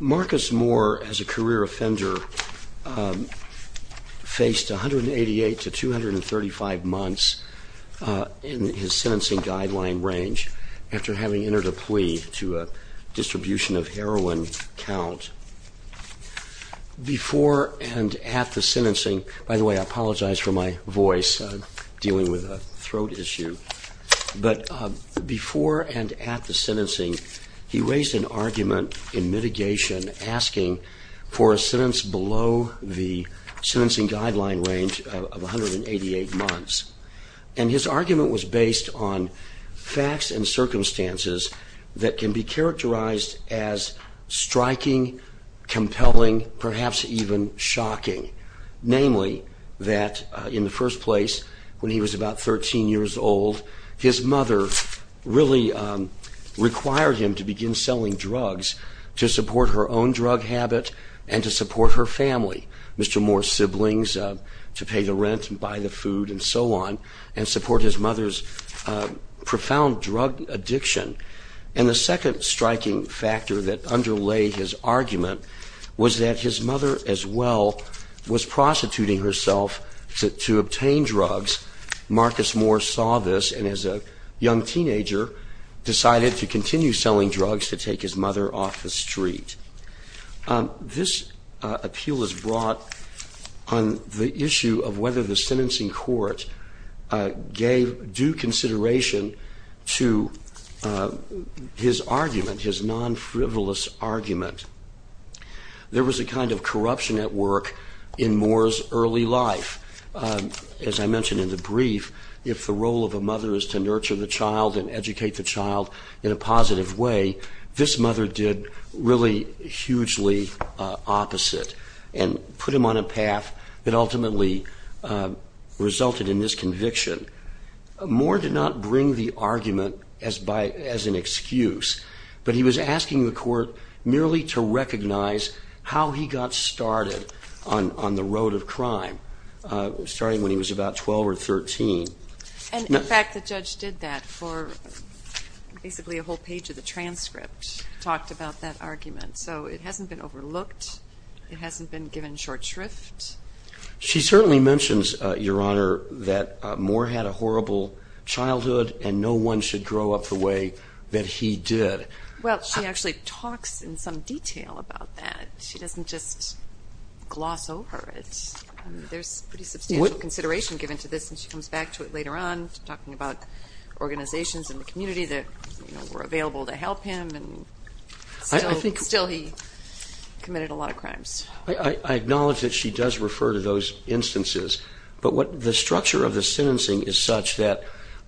Marcus Moore, as a career offender, faced 188 to 235 months in his sentencing guideline range after having entered a plea to a distribution of heroin count. Before and at the sentencing, he raised an argument in mitigation asking for a sentence below the sentencing guideline range of 188 months. And his argument was based on facts and circumstances that can be characterized as striking, compelling, perhaps even shocking. Namely, that in the first place, when he was about 13 years old, his mother really required him to begin selling drugs to support her own drug habit and to support her family, Mr. Moore's siblings, to pay the rent and buy the food and so on, and support his mother's profound drug addiction. And the second striking factor that underlay his argument was that his mother as well was prostituting herself to obtain drugs. Marcus Moore saw this and as a young teenager decided to continue selling drugs to take his mother off the street. This appeal is brought on the issue of whether the sentencing court gave due consideration to his argument, his non-frivolous argument. There was a kind of corruption at work in Moore's early life. As I mentioned in the brief, if the role of a mother is to nurture the child and educate the child in a positive way, this mother did really hugely opposite and put him on a path that ultimately resulted in this conviction. Moore did not bring the argument as an excuse, but he was asking the court merely to recognize how he got started on the road of crime, starting when he was about 12 or 13. And in fact the judge did that for basically a whole page of the transcript, talked about that argument. So it hasn't been overlooked, it hasn't been given short shrift. She certainly mentions, Your Honor, that Moore had a horrible childhood and no one should grow up the way that he did. Well, she actually talks in some detail about that. She doesn't just gloss over it. There's pretty substantial consideration given to this and she comes back to it later on, talking about organizations in the community that were available to help him and still he committed a lot of crimes. I acknowledge that she does refer to those instances, but the structure of the sentencing is such that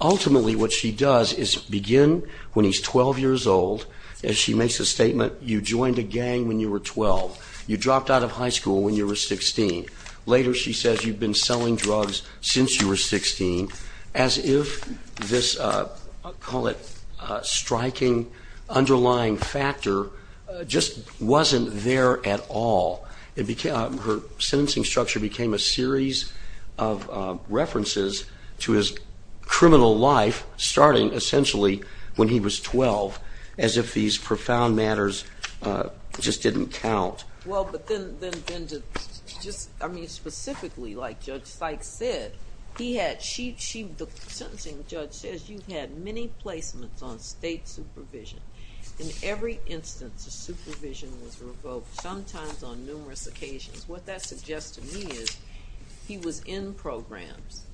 ultimately what she does is begin when he's 12 years old and she makes a statement, You joined a gang when you were 12. You dropped out of high school when you were 16. Later she says, You've been selling drugs since you were 16. As if this, I'll call it, striking underlying factor just wasn't there at all. Her sentencing structure became a series of references to his criminal life, starting essentially when he was 12, as if these profound matters just didn't count. Well, but then, just specifically, like Judge Sykes said, the sentencing judge says, You've had many placements on state supervision. In every instance, the supervision was revoked, sometimes on numerous occasions. What that suggests to me is, he was in programs.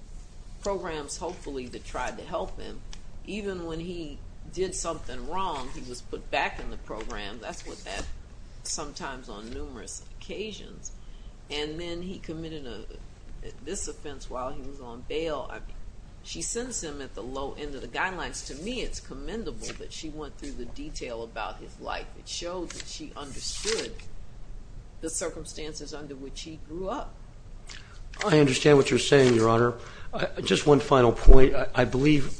Programs, hopefully, that tried to help him. Even when he did something wrong, he was put back in the program. That's what that, sometimes on numerous occasions. And then he committed this offense while he was on bail. She sends him at the low end of the guidelines. To me, it's commendable that she went through the detail about his life. It showed that she understood the circumstances under which he grew up. I understand what you're saying, Your Honor. Just one final point. I believe,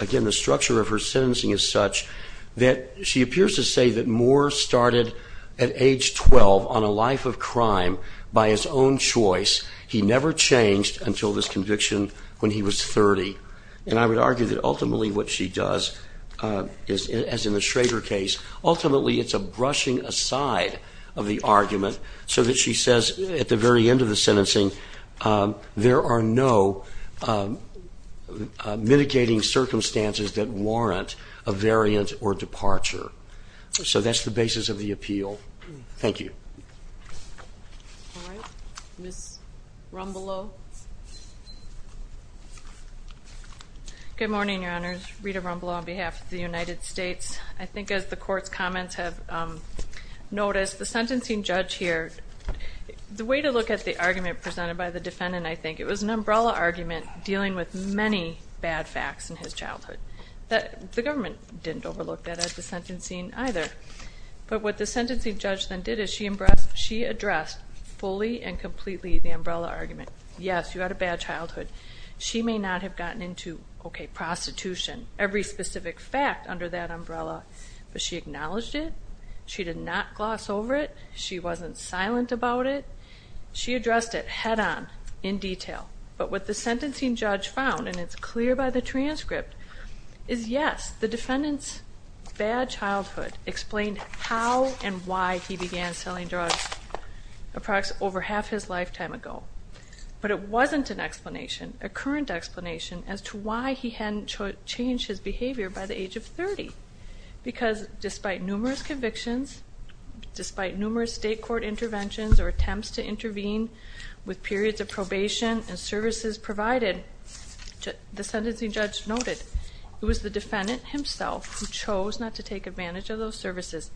again, the structure of her sentencing is such that she appears to say that Moore started at age 12 on a life of crime by his own choice. He never changed until this conviction when he was 30. And I would argue that ultimately what she does, as in the Schrader case, ultimately it's a brushing aside of the argument, so that she says at the very end of the sentencing, there are no mitigating circumstances that warrant a variant or departure. So that's the basis of the appeal. Thank you. Good morning, Your Honors. Rita Rumble on behalf of the United States. I think as the court's comments have noticed, the sentencing judge here, the way to look at the argument presented by the defendant, I think, it was an umbrella argument dealing with many bad facts in his childhood that the government didn't overlook that at the sentencing either. But what the sentencing judge then did is she addressed fully and completely the umbrella argument. Yes, you had a bad childhood. She may not have gotten into, okay, prostitution, every specific fact under that umbrella, but she acknowledged it. She did not gloss over it. She wasn't silent about it. She addressed it head on, in detail. But what the sentencing judge found, and it's clear by the transcript, is yes, the defendant's bad childhood explained how and why he began selling drugs over half his lifetime ago. But it wasn't an explanation, a current explanation, as to why he hadn't changed his behavior by the age of 30. Because despite numerous convictions, despite numerous state court interventions or attempts to intervene with periods of probation and services provided, the sentencing judge noted it was the defendant himself who chose not to take advantage of those services.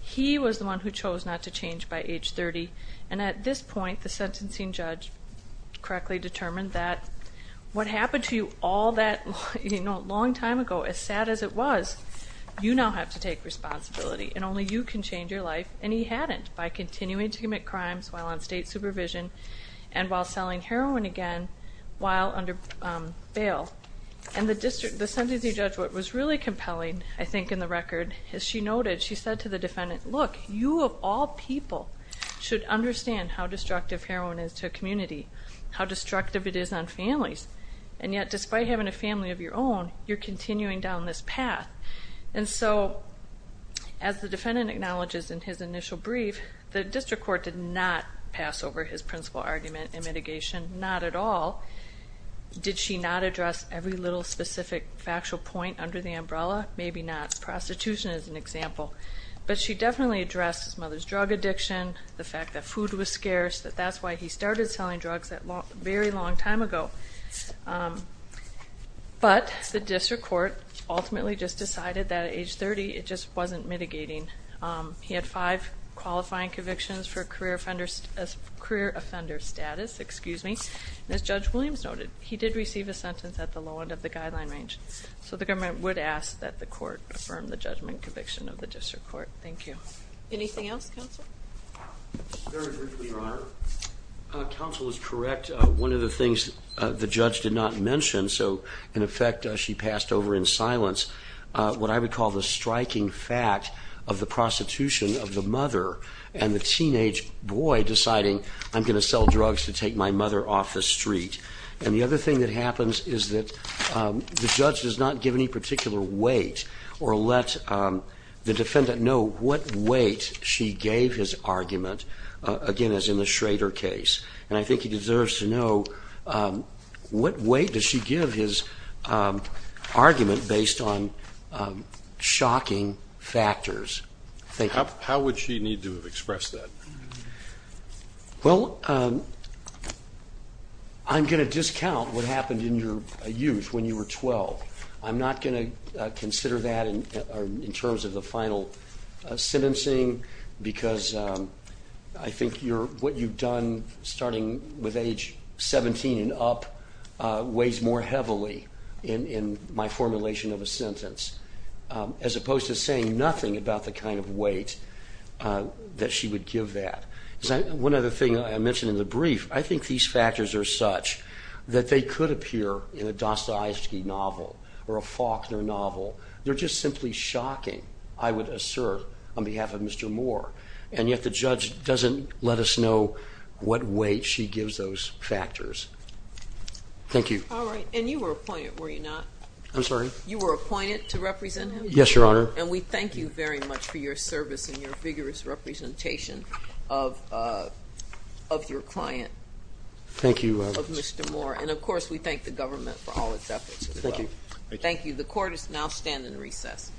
He was the one who chose not to change by age 30. And at this point, the sentencing judge correctly determined that what happened to you all that long time ago, as sad as it was, you now have to take responsibility, and only you can change your life. And he hadn't, by continuing to commit crimes while on state supervision and while selling heroin again while under bail. And the sentencing judge, what was really compelling, I think in the record, as she noted, she said to the defendant, look, you of all people should understand how destructive heroin is to a community, how destructive it is on families, and yet despite having a family of your own, you're continuing down this path. And so, as the defendant acknowledges in his initial brief, the district court did not pass over his principal argument in mitigation, not at all. Did she not address every little specific factual point under the umbrella? Maybe not. Prostitution is an example. But she definitely addressed his mother's drug addiction, the fact that food was scarce, that that's why he started selling drugs that very long time ago. But the district court ultimately just decided that at age 30, it just wasn't mitigating. He had five qualifying convictions for career offender status, excuse me. And as Judge Williams noted, he did receive a sentence at the low end of the guideline range. So the government would ask that the court affirm the judgment conviction of the district court. Thank you. Anything else, Counsel? Very briefly, Your Honor. Counsel is correct. One of the things the judge did not mention, so in effect, she passed over in silence. What I would call the striking fact of the prostitution of the mother and the teenage boy deciding, I'm going to sell drugs to take my mother off the street. And the other thing that happens is that the judge does not give any particular weight or let the defendant know what weight she gave his argument. Again, as in the Schrader case. And I think he deserves to know what weight does she give his argument based on shocking factors. Thank you. How would she need to have expressed that? Well, I'm going to discount what happened in your youth when you were 12. I'm not going to consider that in terms of the final sentencing, because I think what you've done, starting with age 17 and up, weighs more heavily in my formulation of a sentence. As opposed to saying nothing about the kind of weight that she would give that. One other thing I mentioned in the brief, I think these factors are such that they could appear in a Dostoevsky novel or a Faulkner novel. They're just simply shocking, I would assert, on behalf of Mr. Moore. And yet the judge doesn't let us know what weight she gives those factors. Thank you. All right, and you were appointed, were you not? I'm sorry? You were appointed to represent him? Yes, Your Honor. And we thank you very much for your service and your vigorous representation of your client. Thank you. Of Mr. Moore. And of course, we thank the government for all its efforts as well. Thank you. Thank you. The court is now standing in recess. All those in favor, say aye. Aye. Aye. Aye. Aye. Aye. Aye.